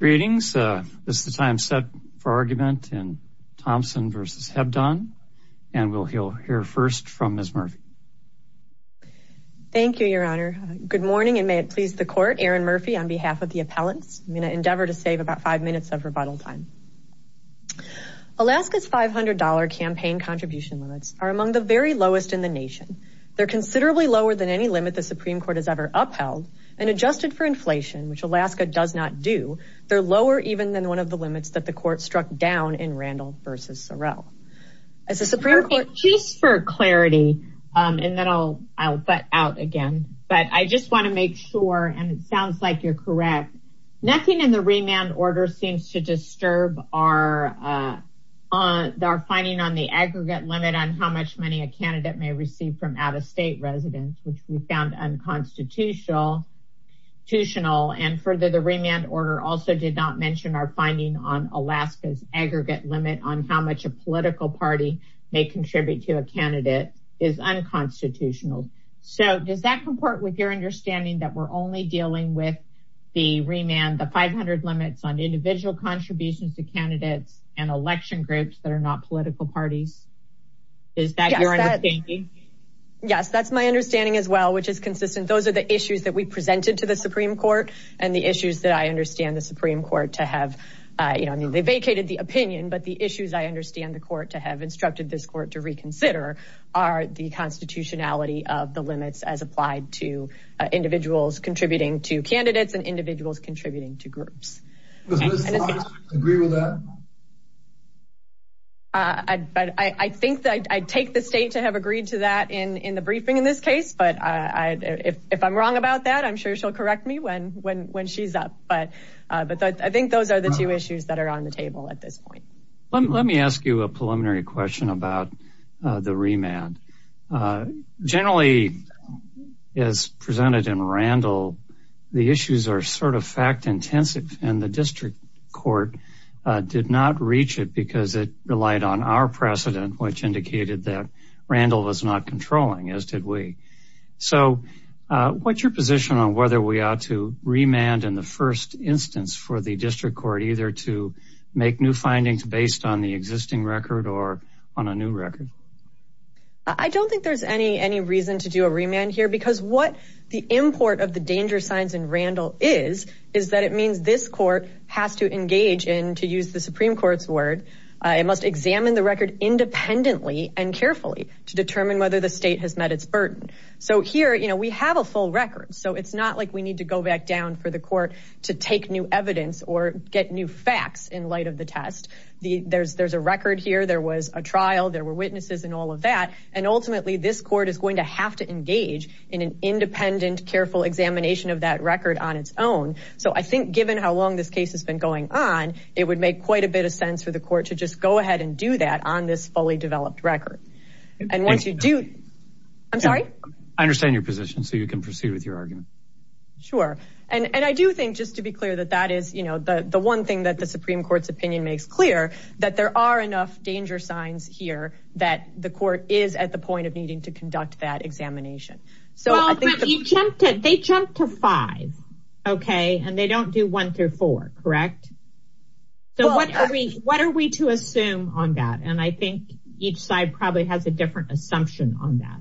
Good morning, and may it please the Court, Erin Murphy on behalf of the appellants, I'm going to endeavor to save about five minutes of rebuttal time. Alaska's $500 campaign contribution limits are among the very lowest in the nation. They're considerably lower than any limit the Supreme Court has ever upheld, and adjusted for inflation, which Alaska does not do, they're lower even than one of the limits that the Court struck down in Randall v. Sorrell. As the Supreme Court- Just for clarity, and then I'll butt out again, but I just want to make sure, and it sounds like you're correct, nothing in the remand order seems to disturb our finding on the aggregate limit on how much money a candidate may receive from out-of-state residents, which we found unconstitutional, and further, the remand order also did not mention our finding on Alaska's aggregate limit on how much a political party may contribute to a candidate is unconstitutional. So does that comport with your understanding that we're only dealing with the remand, the 500 limits on individual contributions to candidates and election groups that are not political parties? Is that your understanding? Yes, that's my understanding as well, which is consistent. Those are the issues that we presented to the Supreme Court, and the issues that I understand the Supreme Court to have, you know, I mean, they vacated the opinion, but the issues I understand the Court to have instructed this Court to reconsider are the constitutionality of the limits as applied to individuals contributing to candidates and individuals contributing to groups. Does Ms. Fox agree with that? I think that I take the state to have agreed to that in the briefing in this case, but if I'm wrong about that, I'm sure she'll correct me when she's up, but I think those are the two issues that are on the table at this point. Let me ask you a preliminary question about the remand. Generally, as presented in Randall, the issues are sort of fact-intensive, and the District Court did not reach it because it relied on our precedent, which indicated that Randall was not controlling, as did we. So what's your position on whether we ought to remand in the first instance for the District Court either to make new findings based on the existing record or on a new record? I don't think there's any reason to do a remand here, because what the import of the danger signs in Randall is, is that it means this court has to engage in, to use the Supreme Court's word, it must examine the record independently and carefully to determine whether the state has met its burden. So here, we have a full record, so it's not like we need to go back down for the court to take new evidence or get new facts in light of the test. There's a record here, there was a trial, there were witnesses and all of that, and ultimately this court is going to have to engage in an independent, careful examination of that record on its own. So I think given how long this case has been going on, it would make quite a bit of sense for the court to just go ahead and do that on this fully developed record. And once you do... I'm sorry? I understand your position, so you can proceed with your argument. Sure. And I do think, just to be clear, that that is the one thing that the Supreme Court's opinion makes clear, that there are enough danger signs here that the court is at the point of needing to conduct that examination. Well, but they jumped to five, okay, and they don't do one through four, correct? So what are we to assume on that? And I think each side probably has a different assumption on that.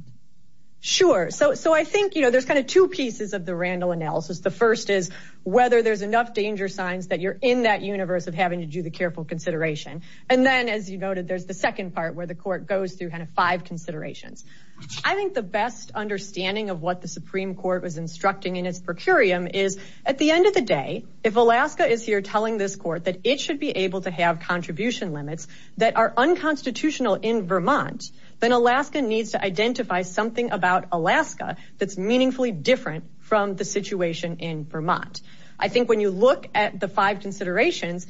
Sure. So I think there's kind of two pieces of the Randall analysis. The first is whether there's enough danger signs that you're in that universe of having to do the careful consideration. And then, as you noted, there's the second part where the court goes through kind of five considerations. I think the best understanding of what the Supreme Court was instructing in its per curiam is, at the end of the day, if Alaska is here telling this court that it should be able to have contribution limits that are unconstitutional in Vermont, then Alaska needs to identify something about Alaska that's meaningfully different from the situation in Vermont. I think when you look at the five considerations,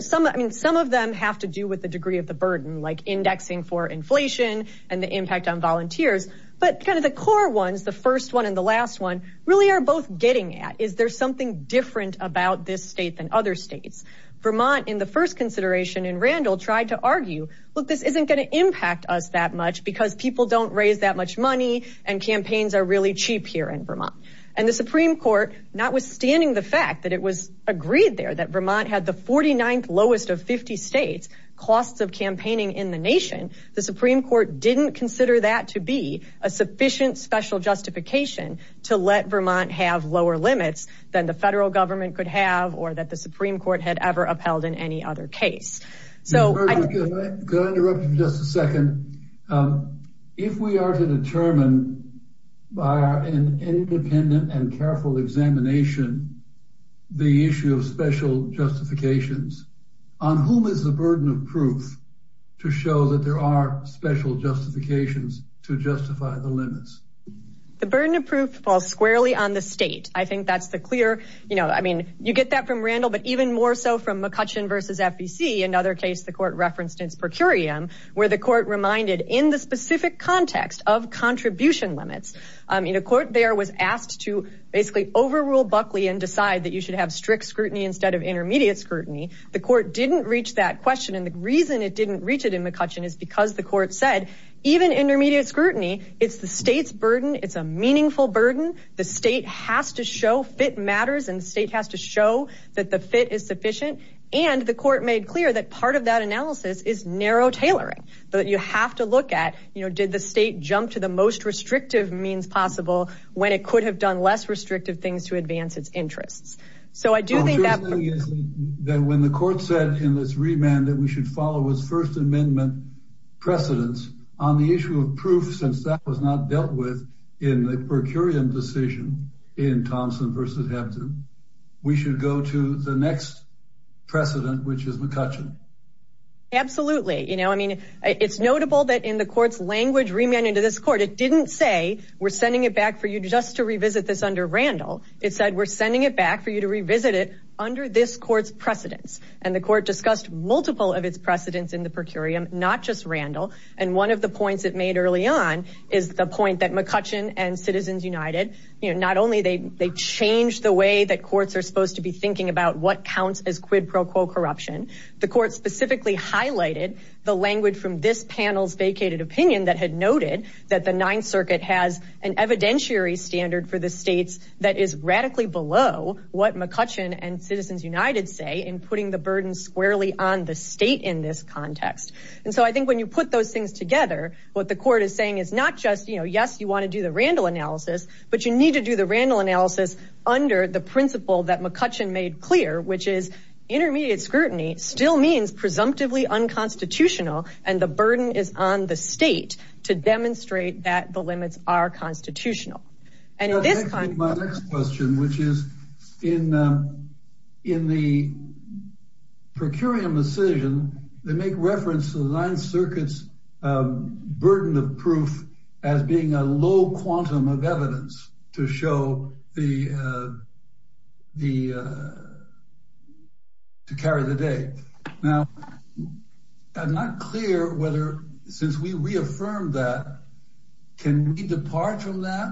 some of them have to do with the degree of burden, like indexing for inflation and the impact on volunteers. But kind of the core ones, the first one and the last one, really are both getting at, is there something different about this state than other states? Vermont, in the first consideration in Randall, tried to argue, look, this isn't going to impact us that much because people don't raise that much money and campaigns are really cheap here in Vermont. And the Supreme Court, notwithstanding the fact that it was agreed there that Vermont had the 49th lowest of 50 states, costs of campaigning in the nation, the Supreme Court didn't consider that to be a sufficient special justification to let Vermont have lower limits than the federal government could have or that the Supreme Court had ever upheld in any other case. Could I interrupt you for just a second? If we are to determine, by our independent and careful examination, the issue of special justifications, on whom is the burden of proof to show that there are special justifications to justify the limits? The burden of proof falls squarely on the state. I think that's the clear, you know, I mean, you get that from Randall, but even more so from McCutcheon versus FEC, another case the court referenced in its per curiam, where the court reminded in the specific context of contribution limits, I mean, a court there was asked to basically overrule Buckley and decide that you should have strict scrutiny instead of intermediate scrutiny. The court didn't reach that question and the reason it didn't reach it in McCutcheon is because the court said, even intermediate scrutiny, it's the state's burden. It's a meaningful burden. The state has to show fit matters and the state has to show that the fit is sufficient. And the court made clear that part of that analysis is narrow tailoring, but you have to look at, you know, did the state jump to the most restrictive means possible when it could have done less restrictive things to advance its interests? So I do think that when the court said in this remand that we should follow his first amendment precedence on the issue of proof, since that was not dealt with in the per curiam decision in Thompson versus Hampton, we should go to the next precedent, which is McCutcheon. Absolutely. You know, I mean, it's notable that in the court's language remand into this court, it didn't say we're sending it back for you just to revisit this under Randall. It said, we're sending it back for you to revisit it under this court's precedence. And the court discussed multiple of its precedents in the per curiam, not just Randall. And one of the points it made early on is the point that McCutcheon and Citizens United, you know, not only they, they changed the way that courts are supposed to be thinking about what counts as quid pro quo corruption. The court specifically highlighted the language from this panel's vacated opinion that had noted that the ninth circuit has an evidentiary standard for the states that is radically below what McCutcheon and Citizens United say in putting the burden squarely on the state in this context. And so I think when you put those things together, what the court is saying is not just, you know, yes, you want to do the Randall analysis, but you need to do the Randall analysis under the principle that McCutcheon made clear, which is intermediate scrutiny still means presumptively unconstitutional. And the burden is on the state to demonstrate that the limits are constitutional. My next question, which is in the per curiam decision, they make reference to the ninth circuit's burden of proof as being a low quantum of evidence to show the, to carry the day. Now, I'm not clear whether, since we reaffirmed that, can we depart from that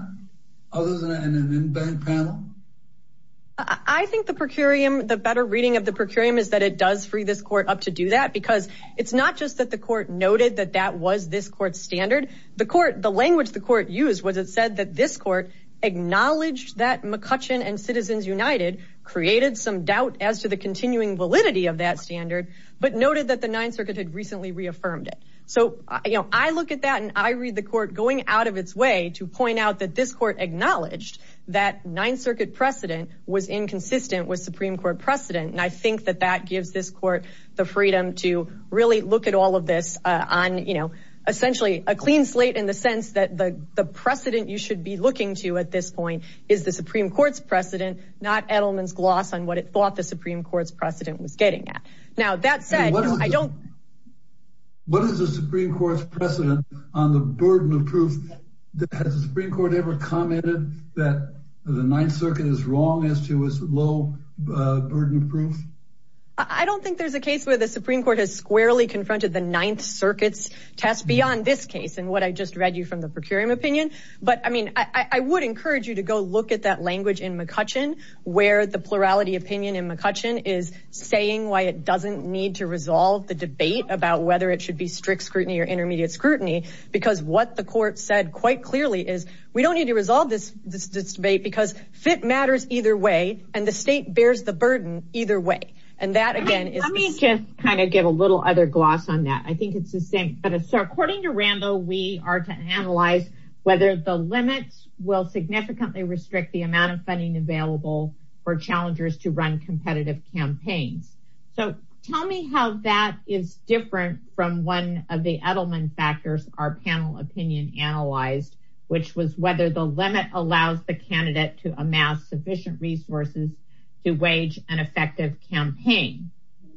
other than an in-bank panel? I think the per curiam, the better reading of the per curiam is that it does free this court up to do that because it's not just that the court noted that that was this court's standard. The court, the language the court used was, it said that this court acknowledged that McCutcheon and Citizens United created some doubt as to the continuing validity of that standard, but noted that the ninth circuit had recently reaffirmed it. So I look at that and I read the court going out of its way to point out that this court acknowledged that ninth circuit precedent was inconsistent with Supreme court precedent. And I think that that gives this court the freedom to really look at all of this on, you know, essentially a clean slate in the sense that the precedent you should be looking to at this point is the Supreme court's precedent, not Edelman's gloss on what it thought the Now that said, I don't. What is the Supreme court's precedent on the burden of proof that has the Supreme court ever commented that the ninth circuit is wrong as to its low burden of proof? I don't think there's a case where the Supreme court has squarely confronted the ninth circuits test beyond this case and what I just read you from the per curiam opinion. But I mean, I would encourage you to go look at that language in McCutcheon where the plurality opinion in McCutcheon is saying why it doesn't need to resolve the debate about whether it should be strict scrutiny or intermediate scrutiny, because what the court said quite clearly is we don't need to resolve this debate because fit matters either way and the state bears the burden either way. And that again is just kind of give a little other gloss on that. I think it's the same. But according to Randall, we are to analyze whether the limits will significantly restrict the amount of funding available for challengers to run competitive campaigns. So tell me how that is different from one of the Edelman factors our panel opinion analyzed, which was whether the limit allows the candidate to amass sufficient resources to wage an effective campaign.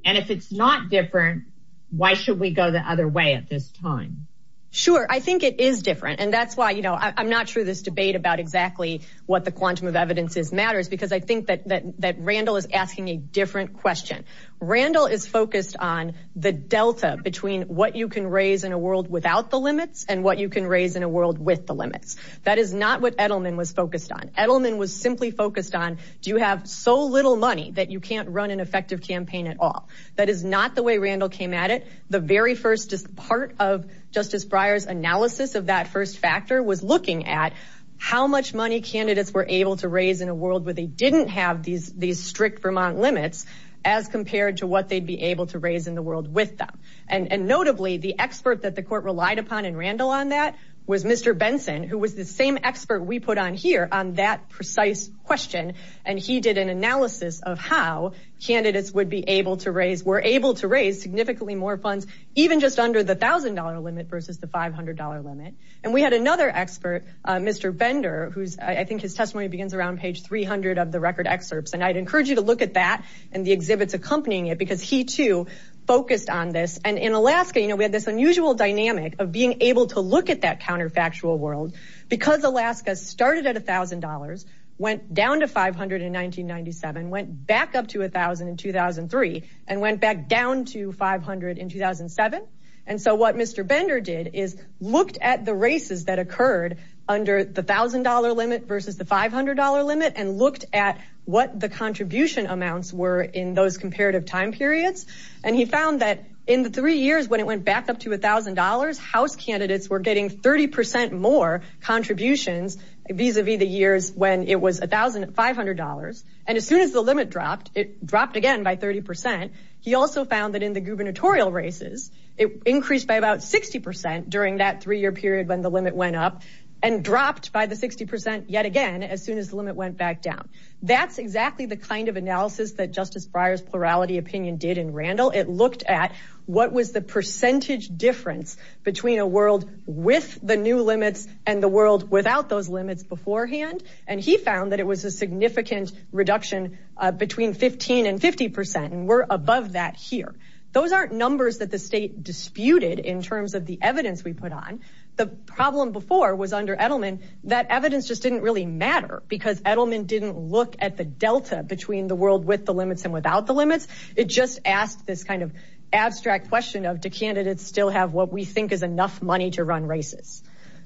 And if it's not different, why should we go the other way at this time? Sure. I think it is different. And that's why, you know, I'm not sure this debate about exactly what the quantum of evidence is matters because I think that Randall is asking a different question. Randall is focused on the delta between what you can raise in a world without the limits and what you can raise in a world with the limits. That is not what Edelman was focused on. Edelman was simply focused on do you have so little money that you can't run an effective campaign at all? That is not the way Randall came at it. The very first part of Justice Breyer's analysis of that first factor was looking at how much money candidates were able to raise in a world where they didn't have these strict Vermont limits as compared to what they'd be able to raise in the world with them. And notably, the expert that the court relied upon in Randall on that was Mr. Benson, who was the same expert we put on here on that precise question. And he did an analysis of how candidates would be able to raise, were able to raise significantly more funds even just under the $1,000 limit versus the $500 limit. And we had another expert, Mr. Bender, whose I think his testimony begins around page 300 of the record excerpts. And I'd encourage you to look at that and the exhibits accompanying it because he too focused on this. And in Alaska, you know, we had this unusual dynamic of being able to look at that counterfactual world because Alaska started at $1,000, went down to $500 in 1997, went back up to $1,000 in 2003, and went back down to $500 in 2007. And so what Mr. Bender did is looked at the races that occurred under the $1,000 limit versus the $500 limit and looked at what the contribution amounts were in those comparative time periods. And he found that in the three years when it went back up to $1,000, House candidates were getting 30% more contributions vis-a-vis the years when it was $1,500. And as soon as the limit dropped, it dropped again by 30%. He also found that in the gubernatorial races, it increased by about 60% during that three-year period when the limit went up and dropped by the 60% yet again as soon as the limit went back down. That's exactly the kind of analysis that Justice Breyer's plurality opinion did in Randall. It looked at what was the percentage difference between a world with the new limits and the world without those limits beforehand. And he found that it was a significant reduction between 15 and 50%, and we're above that here. Those aren't numbers that the state disputed in terms of the evidence we put on. The problem before was under Edelman, that evidence just didn't really matter because Edelman didn't look at the delta between the world with the limits and without the limits. It just asked this kind of abstract question of, do candidates still have what we think is enough money to run races?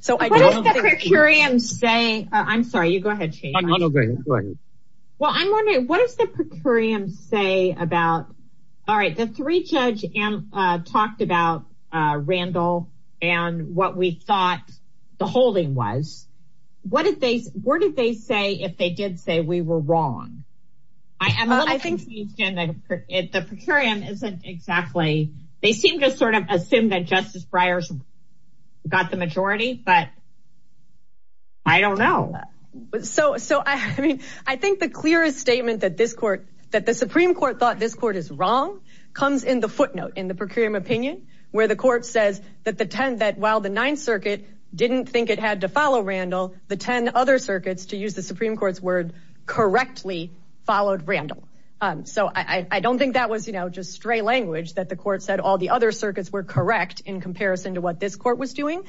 What does the per curiam say about Randall and what we thought the holding was? What did they say if they did say we were wrong? I think the per curiam isn't exactly... They seem to sort of assume that Justice Breyer's got the majority, but I don't know. I think the clearest statement that the Supreme Court thought this court is wrong comes in the footnote in the per curiam opinion, where the court says that while the Ninth Circuit didn't think it had to follow Randall, the 10 other circuits, to use the Supreme Court's word, correctly followed Randall. I don't think that was just stray language that the court said all the other circuits were correct in comparison to what this court was doing.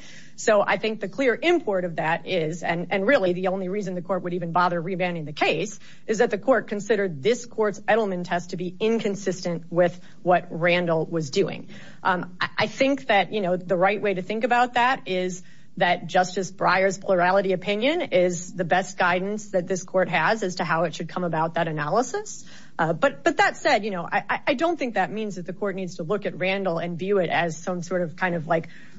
I think the clear import of that is, and really the only reason the court would even bother rebanding the case, is that the court considered this court's Edelman test to be inconsistent with what Randall was doing. I think that the right way to think about that is that Justice Breyer's plurality opinion is the best guidance that this court has as to how it should come about that analysis. But that said, I don't think that means that the court needs to look at Randall and view it as some sort of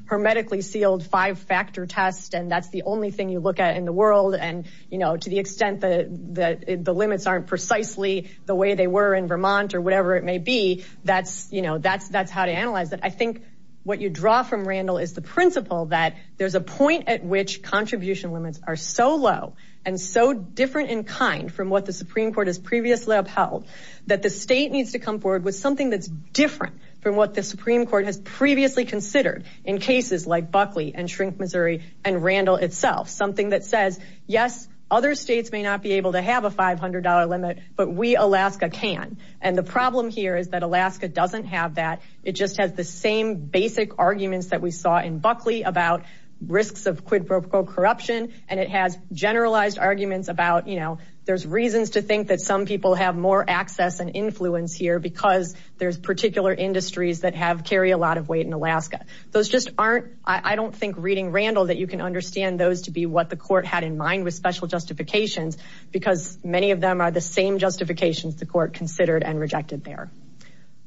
hermetically sealed five-factor test, and that's the only thing you look at in the world, and to the extent that the limits aren't precisely the way they were in Vermont or whatever it may be, that's how to analyze it. I think what you draw from Randall is the principle that there's a point at which contribution limits are so low and so different in kind from what the Supreme Court has previously upheld that the state needs to come forward with something that's different from what the Supreme Court has previously considered in cases like Buckley and Shrink, Missouri and Randall itself. Something that says, yes, other states may not be able to have a $500 limit, but we, Alaska, can. And the problem here is that Alaska doesn't have that. It just has the same basic arguments that we saw in Buckley about risks of quid pro quo corruption, and it has generalized arguments about, you know, there's reasons to think that some people have more access and influence here because there's particular industries that have, carry a lot of weight in Alaska. Those just aren't, I don't think reading Randall that you can understand those to be what the court had in mind with special justifications, because many of them are the same justifications the court considered and rejected there.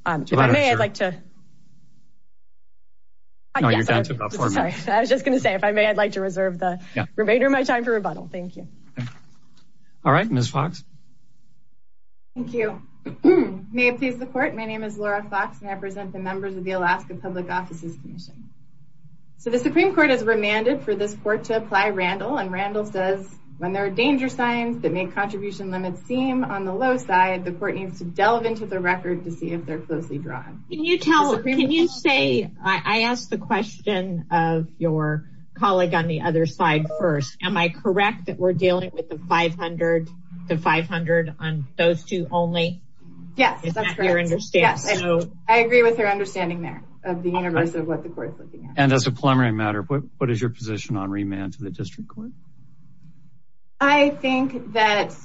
If I may, I'd like to... No, you're down to about four minutes. Sorry. I was just going to say, if I may, I'd like to reserve the remainder of my time for rebuttal. Thank you. All right. Ms. Fox. Thank you. May it please the court. My name is Laura Fox, and I represent the members of the Alaska Public Offices Commission. So the Supreme Court has remanded for this court to apply Randall, and Randall says, when there are danger signs that make contribution limits seem on the low side, the court needs to delve into the record to see if they're closely drawn. Can you tell, can you say, I asked the question of your colleague on the other side first. Am I correct that we're dealing with the 500 to 500 on those two only? Yes, that's correct. Is that your understanding? Yes. I agree with her understanding there of the universe of what the court is looking at. And as a preliminary matter, what is your position on remand to the district court? I think that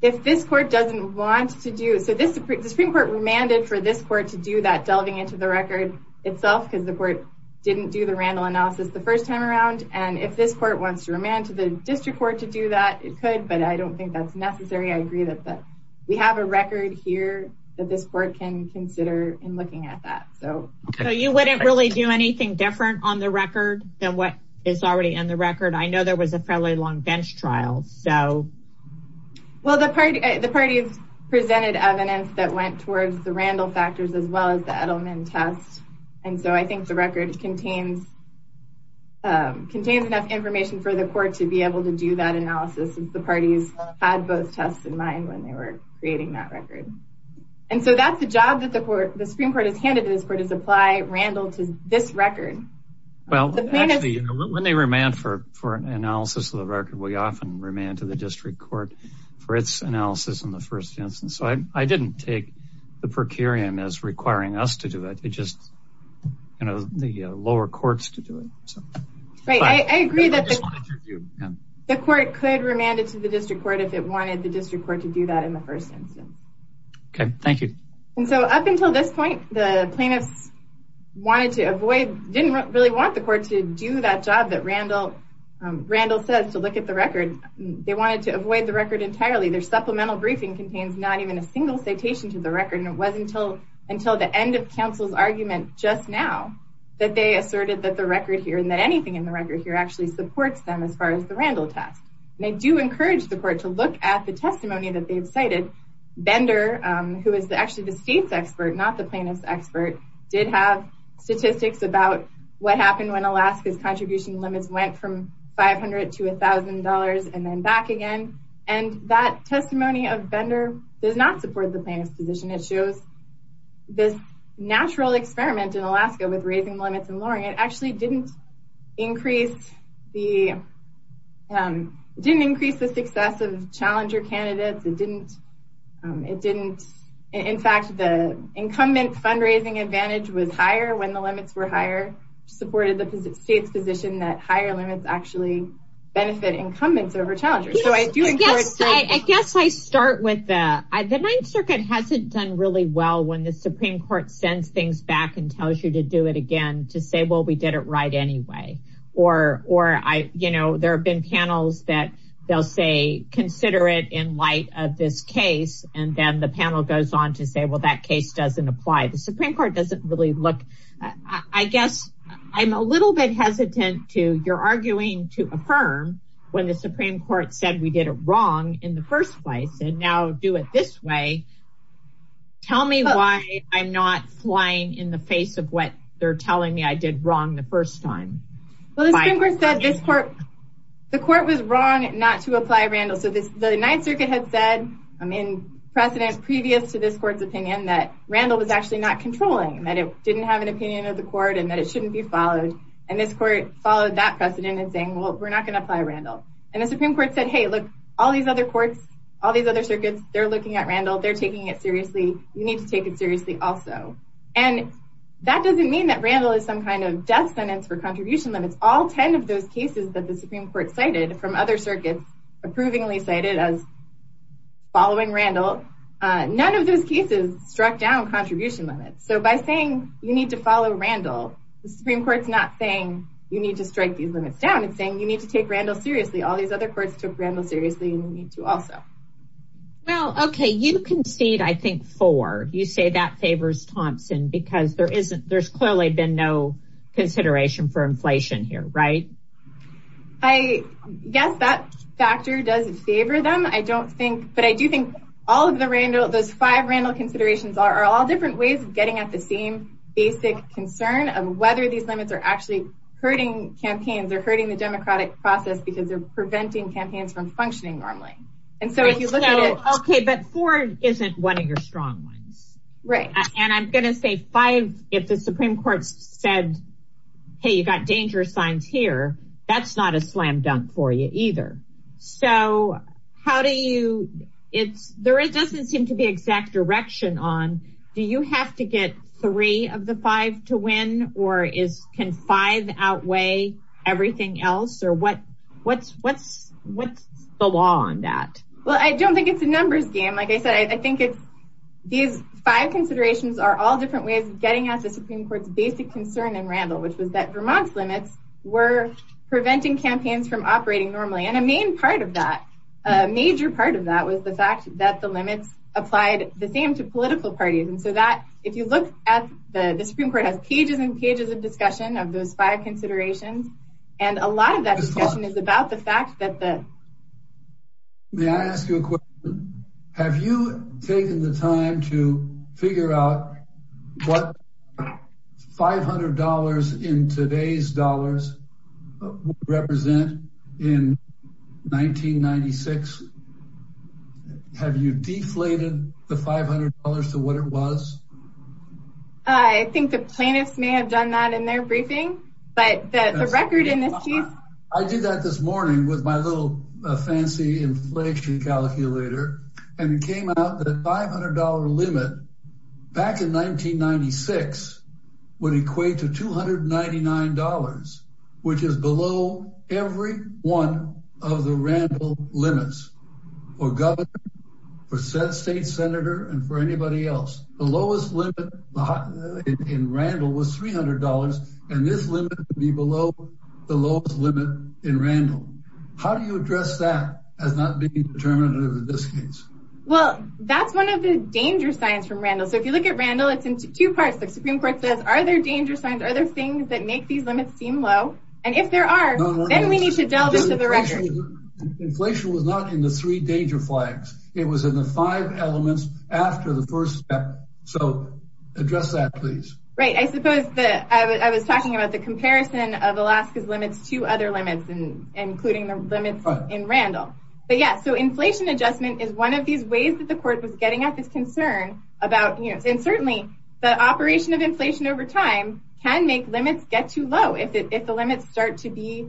if this court doesn't want to do, so the Supreme Court remanded for this court to do that delving into the record itself, because the court didn't do the Randall analysis the first time around. And if this court wants to remand to the district court to do that, it could, but I don't think that's necessary. I agree that we have a record here that this court can consider in looking at that. So you wouldn't really do anything different on the record than what is already in the record. I know there was a fairly long bench trial, so. Well, the parties presented evidence that went towards the Randall factors as well as the Edelman test. And so I think the record contains enough information for the court to be able to do that analysis since the parties had both tests in mind when they were creating that record. And so that's the job that the Supreme Court has handed to this court is apply Randall to this record. Well, actually, when they remand for an analysis of the record, we often remand to the district court for its analysis in the first instance. So I didn't take the per curiam as requiring us to do it. It's just the lower courts to do it. Right. I agree that the court could remand it to the district court if it wanted the district court to do that in the first instance. Okay. Thank you. And so up until this point, the plaintiffs wanted to avoid, didn't really want the court to do that job that Randall says to look at the record. They wanted to avoid the record entirely. Their supplemental briefing contains not even a single citation to the record, and it wasn't until the end of counsel's argument just now that they asserted that the record here and that anything in the record here actually supports them as far as the Randall test. And I do encourage the court to look at the testimony that they've cited. Bender, who is actually the state's expert, not the plaintiff's expert, did have statistics about what happened when Alaska's contribution limits went from $500 to $1,000 and then back again. And that testimony of Bender does not support the plaintiff's position. It shows this natural experiment in Alaska with raising limits and lowering. It actually didn't increase the success of challenger candidates. It didn't. In fact, the incumbent fundraising advantage was higher when the limits were higher, supported the state's position that higher limits actually benefit incumbents over challengers. I guess I start with that. The Ninth Circuit hasn't done really well when the Supreme Court sends things back and tells you to do it again to say, well, we did it right anyway. Or there have been panels that they'll say, consider it in light of this case. And then the panel goes on to say, well, that case doesn't apply. The Supreme Court doesn't really look. I guess I'm a little bit hesitant to your arguing to affirm when the Supreme Court said we did it wrong in the first place and now do it this way. Tell me why I'm not flying in the face of what they're telling me I did wrong the first time. Well, the Supreme Court said the court was wrong not to apply Randall. So the Ninth Circuit had said in precedent previous to this court's opinion that Randall was actually not controlling, that it didn't have an opinion of the court and that it shouldn't be followed. And this court followed that precedent in saying, well, we're not going to apply Randall. And the Supreme Court said, hey, look, all these other courts, all these other circuits, they're looking at Randall. They're taking it seriously. You need to take it seriously also. And that doesn't mean that Randall is some kind of death sentence for contribution limits. All 10 of those cases that the Supreme Court cited from other circuits approvingly cited as following Randall, none of those cases struck down contribution limits. So by saying you need to follow Randall, the Supreme Court's not saying you need to strike these limits down. It's saying you need to take Randall seriously. All these other courts took Randall seriously and you need to also. Well, OK, you concede, I think, four. You say that favors Thompson because there isn't there's clearly been no consideration for inflation here, right? I guess that factor does favor them. I don't think but I do think all of the Randall, those five Randall considerations are all different ways of getting at the same basic concern of whether these limits are actually hurting campaigns or hurting the democratic process because they're preventing campaigns from functioning normally. And so if you look at it. OK, but four isn't one of your strong ones. Right. And I'm going to say five. If the Supreme Court said, hey, you've got danger signs here, that's not a slam dunk for you either. So how do you it's there it doesn't seem to be exact direction on. Do you have to get three of the five to win or is can five outweigh everything else? Or what what's what's what's the law on that? Well, I don't think it's a numbers game. Like I said, I think it's these five considerations are all different ways of getting at the Supreme Court's basic concern in Randall, which was that Vermont's limits were preventing campaigns from operating normally. And a main part of that major part of that was the fact that the limits applied the same to political parties. And so that if you look at the Supreme Court has pages and pages of discussion of those five considerations. And a lot of that discussion is about the fact that the. May I ask you a question? Have you taken the time to figure out what five hundred dollars in today's dollars represent in 1996? Have you deflated the five hundred dollars to what it was? I think the plaintiffs may have done that in their briefing, but that's a record in this case. I did that this morning with my little fancy inflation calculator and it came out that five hundred dollar limit back in 1996 would equate to two hundred ninety nine dollars, which is below every one of the Randall limits. For governor, for said state senator and for anybody else, the lowest limit in Randall was three hundred dollars. And this limit would be below the lowest limit in Randall. How do you address that as not being determinative in this case? Well, that's one of the danger signs from Randall. So if you look at Randall, it's in two parts. The Supreme Court says, are there danger signs? Are there things that make these limits seem low? And if there are, then we need to delve into the record. Inflation was not in the three danger flags. It was in the five elements after the first step. So address that, please. Right. I suppose that I was talking about the comparison of Alaska's limits to other limits and including the limits in Randall. But yeah, so inflation adjustment is one of these ways that the court was getting at this concern about, you know, and certainly the operation of inflation over time can make limits get too low if the limits start to be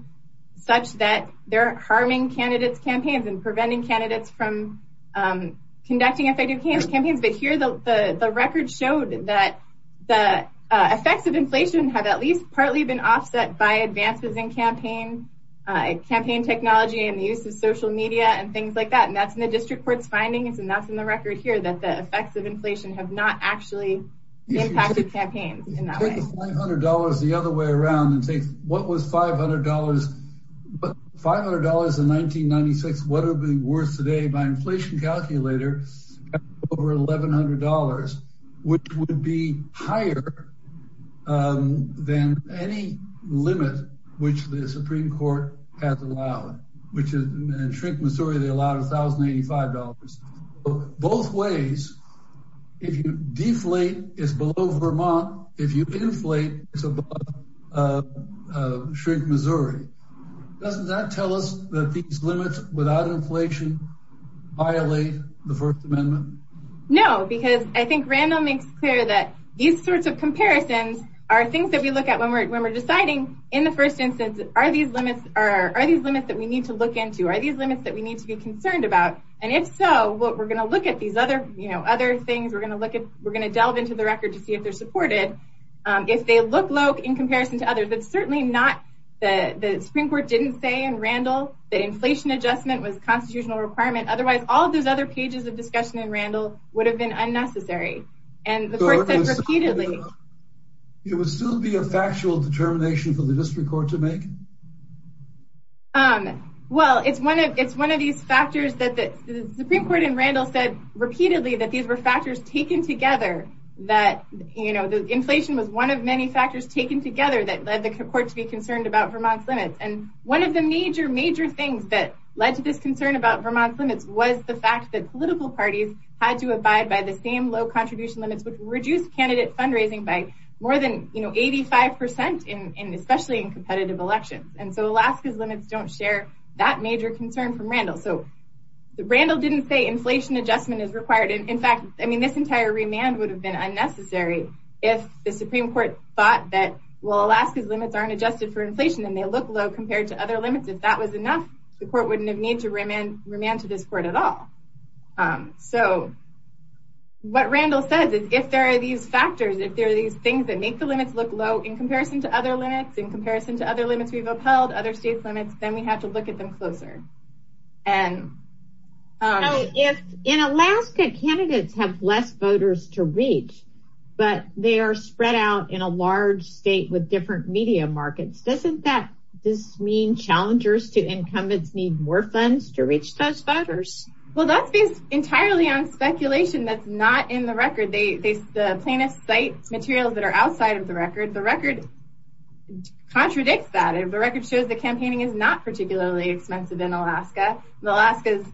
such that they're harming candidates' campaigns and preventing candidates from conducting effective campaigns. But here, the record showed that the effects of inflation have at least partly been offset by advances in campaign, campaign technology and the use of social media and things like that. And that's in the district court's findings. And that's in the record here that the effects of inflation have not actually impacted campaigns in that way. If you take $500 the other way around and say, what was $500? But $500 in 1996, what would it be worth today? By inflation calculator, over $1,100, which would be higher than any limit which the Supreme Court has allowed, which is in Shrink, Missouri, they allowed $1,085. Both ways, if you deflate, it's below Vermont. If you inflate, it's above Shrink, Missouri. Doesn't that tell us that these limits without inflation violate the First Amendment? No, because I think Randall makes clear that these sorts of comparisons are things that we look at when we're deciding in the first instance, are these limits that we need to look into? Are these limits that we need to be concerned about? And if so, we're going to look at these other things. We're going to delve into the record to see if they're supported, if they look low in comparison to others. But certainly not the Supreme Court didn't say in Randall that inflation adjustment was a constitutional requirement. Otherwise, all of those other pages of discussion in Randall would have been unnecessary. And the court said repeatedly. It would still be a factual determination for the district court to make? Well, it's one of these factors that the Supreme Court in Randall said repeatedly that these were factors taken together. That inflation was one of many factors taken together that led the court to be concerned about Vermont's limits. And one of the major, major things that led to this concern about Vermont's limits was the fact that political parties had to abide by the same low contribution limits, which 85 percent, especially in competitive elections. And so Alaska's limits don't share that major concern from Randall. So Randall didn't say inflation adjustment is required. In fact, I mean, this entire remand would have been unnecessary if the Supreme Court thought that, well, Alaska's limits aren't adjusted for inflation and they look low compared to other limits. If that was enough, the court wouldn't have needed to remand to this court at all. So what Randall says is if there are these factors, if there are these things that make the limits look low in comparison to other limits, in comparison to other limits we've upheld, other states' limits, then we have to look at them closer. In Alaska, candidates have less voters to reach, but they are spread out in a large state with different media markets. Doesn't that mean challengers to incumbents need more funds to reach those voters? Well, that's based entirely on speculation that's not in the record. The plaintiffs cite materials that are outside of the record. The record contradicts that. The record shows that campaigning is not particularly expensive in Alaska. Alaska's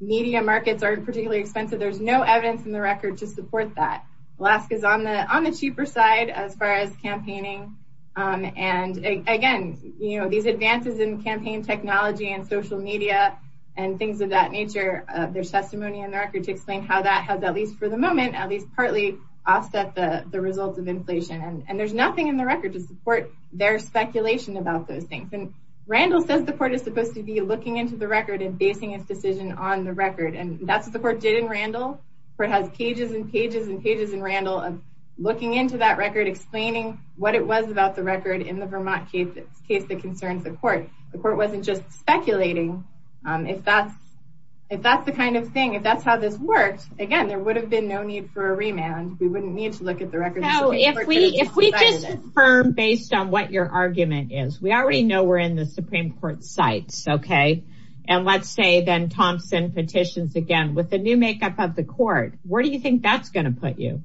media markets aren't particularly expensive. There's no evidence in the record to support that. Alaska's on the cheaper side as far as campaigning. And again, these advances in campaign technology and social media and things of that nature there's testimony in the record to explain how that has, at least for the moment, at least partly offset the results of inflation. And there's nothing in the record to support their speculation about those things. And Randall says the court is supposed to be looking into the record and basing its decision on the record. And that's what the court did in Randall. The court has pages and pages and pages in Randall of looking into that record, explaining what it was about the record in the Vermont case that concerns the court. The court wasn't just speculating. If that's the kind of thing, if that's how this works, again, there would have been no need for a remand. We wouldn't need to look at the record. If we just affirm based on what your argument is, we already know we're in the Supreme Court cites. Okay. And let's say then Thompson petitions again with the new makeup of the court. Where do you think that's going to put you?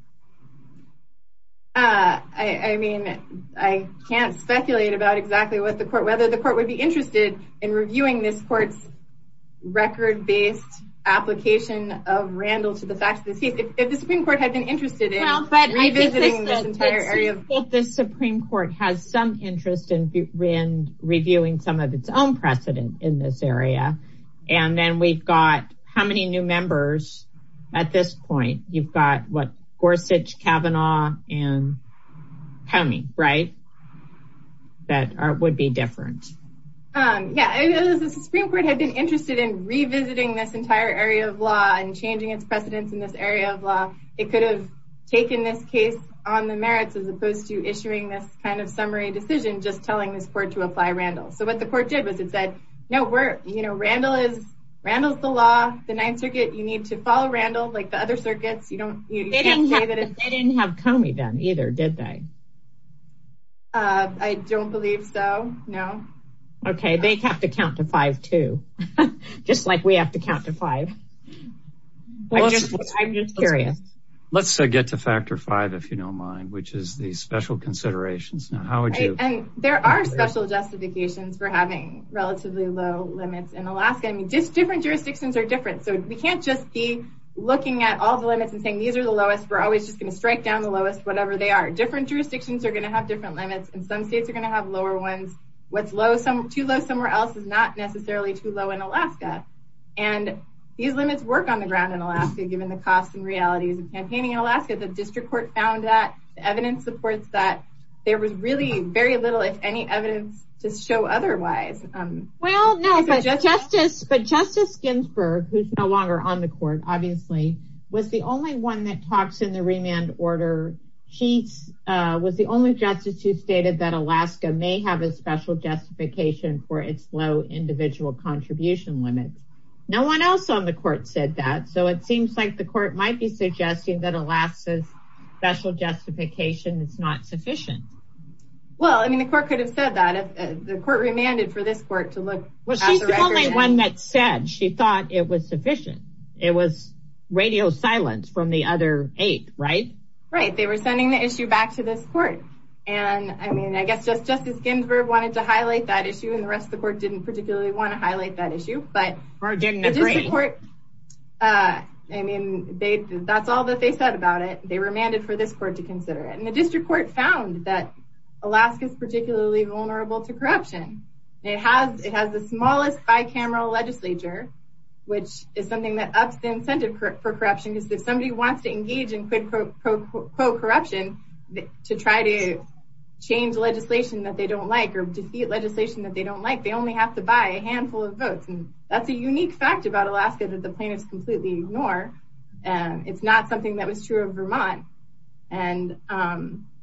I mean, I can't speculate about exactly what the court, whether the court would be interested in reviewing this court's record based application of Randall to the facts of the case. If the Supreme Court had been interested in revisiting this entire area. The Supreme Court has some interest in reviewing some of its own precedent in this area. And then we've got how many new members at this point? You've got what Gorsuch, Kavanaugh, and Coney, right? That would be different. Yeah. The Supreme Court had been interested in revisiting this entire area of law and changing its precedents in this area of law. It could have taken this case on the merits as opposed to issuing this kind of summary decision, just telling this court to apply Randall. So what the court did was it said, no, Randall is the law, the Ninth Circuit. You need to follow Randall like the other circuits. They didn't have Coney then either, did they? I don't believe so. No. Okay. They have to count to five too, just like we have to count to five. I'm just curious. Let's get to factor five, if you don't mind, which is the special considerations. Now, how would you? There are special justifications for having relatively low limits in Alaska. Different jurisdictions are different, so we can't just be looking at all the limits and saying these are the lowest. We're always just going to strike down the lowest, whatever they are. Different jurisdictions are going to have different limits, and some states are going to have lower ones. What's too low somewhere else is not necessarily too low in Alaska. These limits work on the ground in Alaska, given the costs and realities of campaigning in Alaska. The district court found that. The evidence supports that. There was really very little, if any, evidence to show otherwise. Justice Ginsburg, who is no longer on the court, obviously, was the only one that talks in the remand order. She was the only justice who stated that Alaska may have a special justification for its low individual contribution limits. No one else on the court said that, so it seems like the court might be suggesting that Alaska's special justification is not sufficient. Well, the court could have said that. The court remanded for this court to look at the record. Well, she's the only one that said she thought it was sufficient. It was radio silence from the other eight, right? Right. They were sending the issue back to this court. I guess Justice Ginsburg wanted to highlight that issue, and the rest of the court didn't particularly want to highlight that issue. Or didn't agree. That's all that they said about it. They remanded for this court to consider it. The district court found that Alaska is particularly vulnerable to corruption. It has the smallest bicameral legislature, which is something that ups the incentive for corruption. If somebody wants to engage in, quote, quote, quote, corruption to try to change legislation that they don't like or defeat legislation that they don't like, they only have to buy a handful of votes. That's a unique fact about Alaska that the plaintiffs completely ignore. It's not something that was true of Vermont. And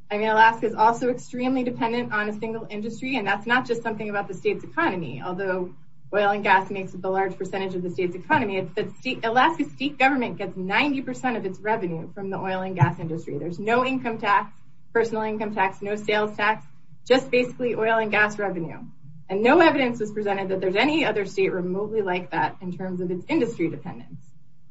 Alaska is also extremely dependent on a single industry, and that's not just something about the state's economy. Although oil and gas makes up a large percentage of the state's economy, Alaska's state government gets 90% of its revenue from the oil and gas industry. There's no income tax, personal income tax, no sales tax, just basically oil and gas revenue. And no evidence was presented that there's any other state remotely like that in terms of its industry dependence.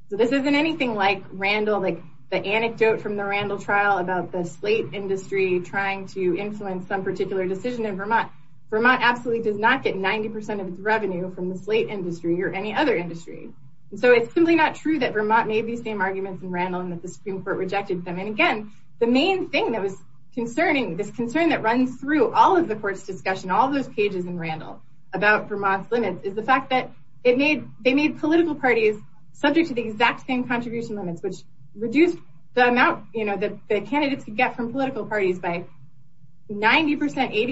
So this isn't anything like Randall, like the anecdote from the Randall trial about the slate industry trying to influence some particular decision in Vermont. Vermont absolutely does not get 90% of its revenue from the slate industry or any other industry. And so it's simply not true that Vermont made these same arguments in Randall and that the Supreme Court rejected them. And again, the main thing that was concerning, this concern that runs through all of the court's discussion, all those pages in Randall about Vermont's limits, is the fact that they made political parties subject to the exact same contribution limits, which reduced the amount that the candidates could get from political parties by 90%,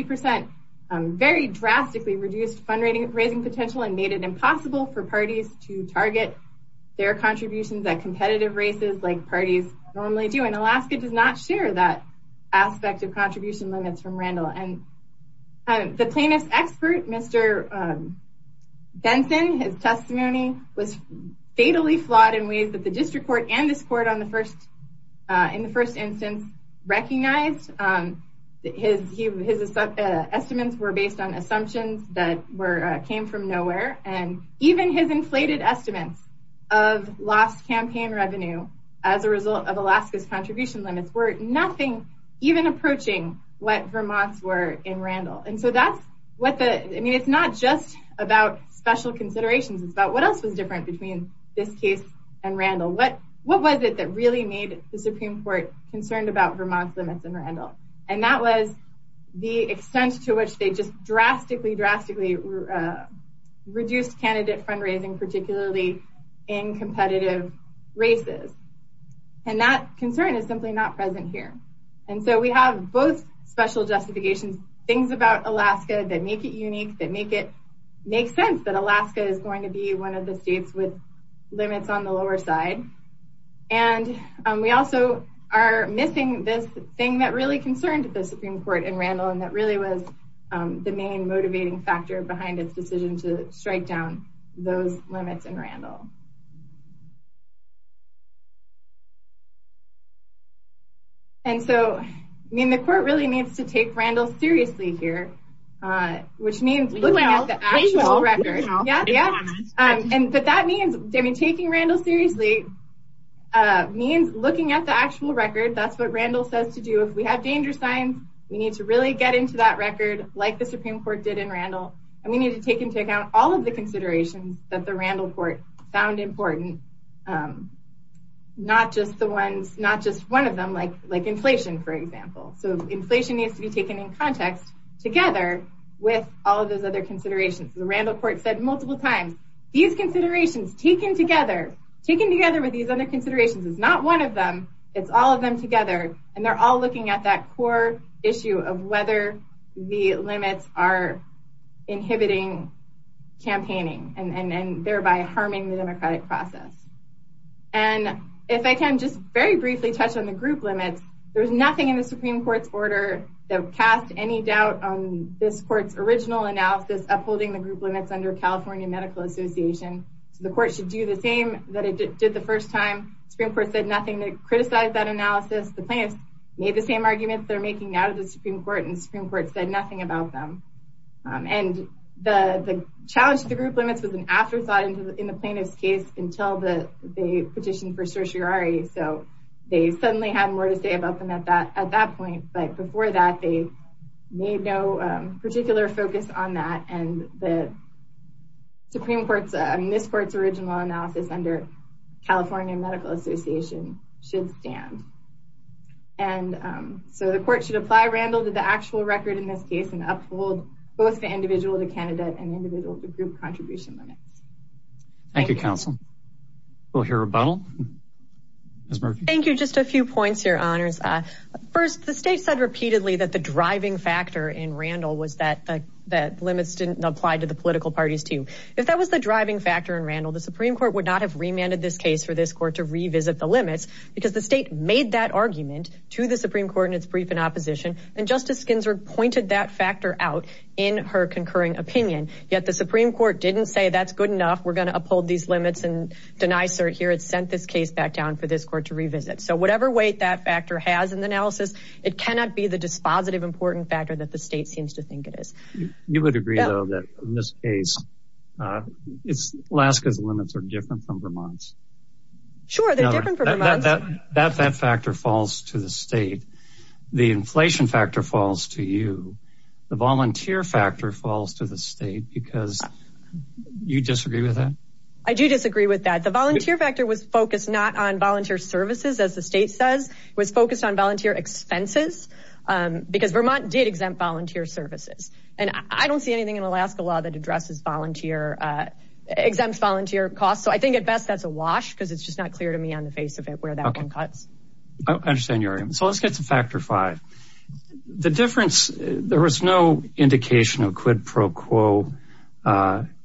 80%, very drastically reduced fundraising potential and made it impossible for parties to target their contributions at competitive races like parties normally do. And Alaska does not share that aspect of contribution limits from Randall. And the plaintiff's expert, Mr. Benson, his testimony was fatally flawed in ways that the district court and this court in the first instance recognized. His estimates were based on assumptions that came from nowhere. And even his inflated estimates of lost campaign revenue as a result of Alaska's contribution limits were nothing, even approaching what Vermont's were in Randall. And so that's what the, I mean, it's not just about special considerations, it's about what else was different between this case and Randall. What was it that really made the Supreme Court concerned about Vermont's limits in Randall? And that was the extent to which they just drastically, drastically reduced candidate fundraising, particularly in competitive races. And that concern is simply not present here. And so we have both special justifications, things about Alaska that make it unique, that make it make sense that Alaska is going to be one of the states with limits on the lower side. And we also are missing this thing that really concerned the Supreme Court in Randall, and that really was the main motivating factor behind its decision to strike down those limits in Randall. And so, I mean, the court really needs to take Randall seriously here, which means looking at the actual record. Yeah, yeah. But that means, I mean, taking Randall seriously means looking at the actual record. That's what Randall says to do. If we have danger signs, we need to really get into that record like the Supreme Court did in Randall. And we need to take into account all of the considerations that the Randall court found important, not just the ones, not just one of them, like inflation, for example. So inflation needs to be taken in context together with all of those other considerations. The Randall court said multiple times, these considerations taken together, taken together with these other considerations is not one of them. It's all of them together. And they're all looking at that core issue of whether the limits are inhibiting campaigning and thereby harming the democratic process. And if I can just very briefly touch on the group limits, there's nothing in the Supreme Court's order that would cast any doubt on this court's original analysis upholding the group limits under California Medical Association. So the court should do the same that it did the first time. Supreme Court said nothing to criticize that analysis. The plaintiffs made the same arguments they're making now to the Supreme Court, and the Supreme Court said nothing about them. And the challenge to the group limits was an afterthought in the plaintiff's case until they petitioned for certiorari. So they suddenly had more to say about them at that point. But before that, they made no particular focus on that. And the Supreme Court's, this court's original analysis under California Medical Association should stand. And so the court should apply Randall to the actual record in this case and uphold both the individual to candidate and individual to group contribution limits. Thank you, counsel. We'll hear a rebuttal. Ms. Murphy? Thank you. Just a few points here, honors. First, the state said repeatedly that the driving factor in Randall was that the limits didn't apply to the political parties, too. If that was the driving factor in Randall, the Supreme Court would not have remanded this case for this court to revisit the limits because the state made that argument to the Supreme Court in its brief in opposition. And Justice Ginsburg pointed that factor out in her concurring opinion. Yet the Supreme Court didn't say that's good enough, we're going to uphold these limits and deny cert here. It sent this case back down for this court to revisit. So whatever weight that factor has in the analysis, it cannot be the dispositive important factor that the state seems to think it is. You would agree, though, that in this case, Alaska's limits are different from Vermont's. Sure, they're different from Vermont's. That factor falls to the state. The inflation factor falls to you. The volunteer factor falls to the state because you disagree with that? I do disagree with that. The volunteer factor was focused not on volunteer services, as the state says. It was focused on volunteer expenses because Vermont did exempt volunteer services. And I don't see anything in Alaska law that exempts volunteer costs. So I think at best, that's a wash because it's just not clear to me on the face of it where that one cuts. I understand your argument. So let's get to factor five. The difference, there was no indication of quid pro quo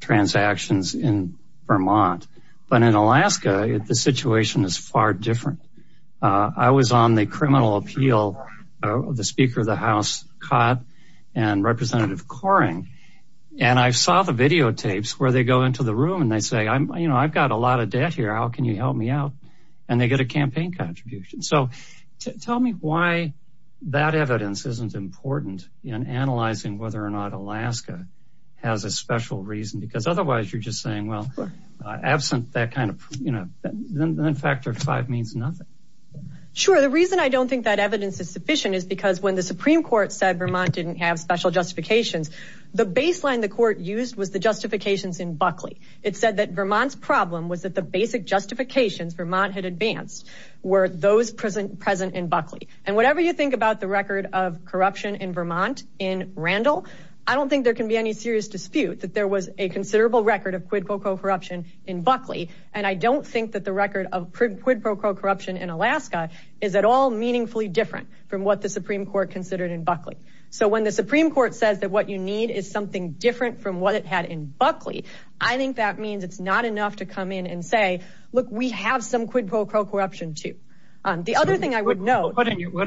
transactions in Vermont. But in Alaska, the situation is far different. I was on the criminal appeal. The Speaker of the House, Codd, and Representative Coring. And I saw the videotapes where they go into the room and they say, I've got a lot of debt here. How can you help me out? And they get a campaign contribution. So tell me why that evidence isn't important in analyzing whether or not Alaska has a special reason. Because otherwise you're just saying, well, absent that kind of, you know, then factor five means nothing. Sure. The reason I don't think that evidence is sufficient is because when the Supreme Court said Vermont didn't have special justifications, the baseline the court used was the justifications in Buckley. It said that Vermont's problem was that the basic justifications Vermont had advanced were those present in Buckley. And whatever you think about the record of corruption in Vermont in Randall, I don't think there can be any serious dispute that there was a considerable record of quid pro quo corruption in Buckley. And I don't think that the record of quid pro quo corruption in Alaska is at all meaningfully different from what the Supreme Court considered in Buckley. So when the Supreme Court says that what you need is something different from what it had in Buckley, I think that means it's not enough to come in and say, look, we have some quid pro quo corruption, too. What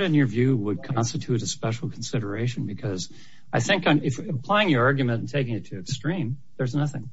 in your view would constitute a special consideration? Because I think applying your argument and taking it to extreme, there's nothing.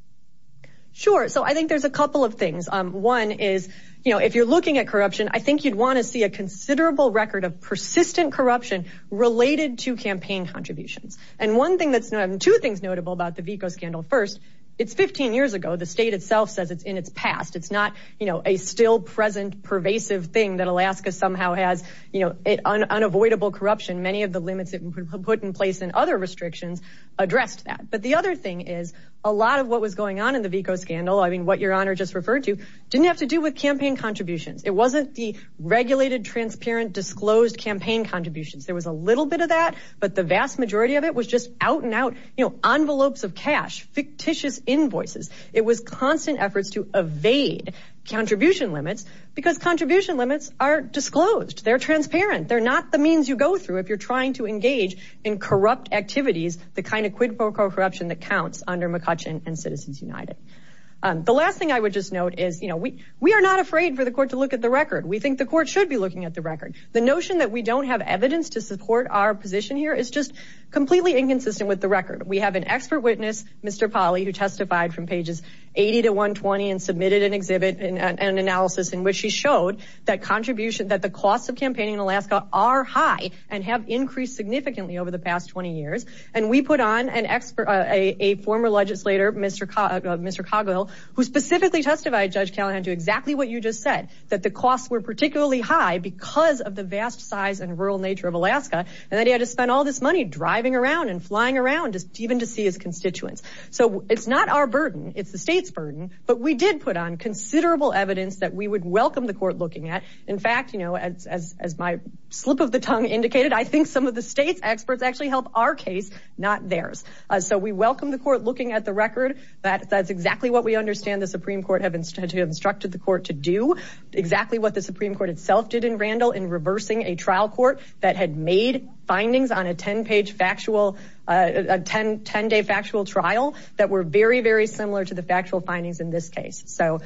Sure. So I think there's a couple of things. One is, you know, if you're looking at corruption, I think you'd want to see a considerable record of persistent corruption related to campaign contributions. And one thing that's two things notable about the VICO scandal. First, it's 15 years ago. The state itself says it's in its past. It's not, you know, a still present pervasive thing that Alaska somehow has, you know, an unavoidable corruption. Many of the limits put in place and other restrictions addressed that. But the other thing is a lot of what was going on in the VICO scandal. I mean, what your honor just referred to didn't have to do with campaign contributions. It wasn't the regulated, transparent, disclosed campaign contributions. There was a little bit of that, but the vast majority of it was just out and out, you know, envelopes of cash, fictitious invoices. It was constant efforts to evade contribution limits because contribution limits are disclosed. They're transparent. They're not the means you go through if you're trying to engage in corrupt activities, the kind of quid pro quo corruption that counts under McCutcheon and Citizens United. The last thing I would just note is, you know, we are not afraid for the court to look at the record. We think the court should be looking at the record. The notion that we don't have evidence to support our position here is just completely inconsistent with the record. We have an expert witness, Mr. Polley, who testified from pages 80 to 120 and submitted an exhibit, an analysis in which he showed that contribution, that the costs of campaigning in Alaska are high and have increased significantly over the past 20 years. And we put on an expert, a former legislator, Mr. Coggill, who specifically testified, Judge Callahan, to exactly what you just said, that the costs were particularly high because of the vast size and rural nature of Alaska. And that he had to spend all this money driving around and flying around just even to see his constituents. So it's not our burden. It's the state's burden. But we did put on considerable evidence that we would welcome the court looking at. In fact, you know, as my slip of the tongue indicated, I think some of the state's experts actually help our case, not theirs. So we welcome the court looking at the record. That's exactly what we understand the Supreme Court have instructed the court to do. Exactly what the Supreme Court itself did in Randall in reversing a trial court that had made findings on a 10-page factual, a 10-day factual trial that were very, very similar to the factual findings in this case. So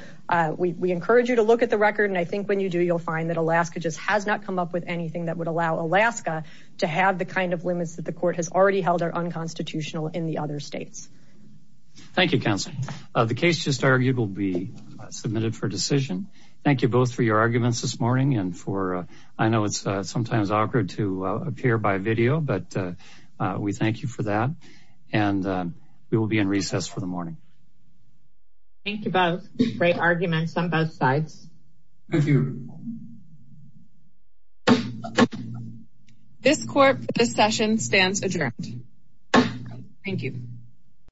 we encourage you to look at the record. And I think when you do, you'll find that Alaska just has not come up with anything that would allow Alaska to have the kind of limits that the court has already held are unconstitutional in the other states. Thank you, Counsel. The case just argued will be submitted for decision. Thank you both for your arguments this morning. And for I know it's sometimes awkward to appear by video, but we thank you for that. And we will be in recess for the morning. Thank you both. Great arguments on both sides. Thank you. This court, this session stands adjourned. Thank you.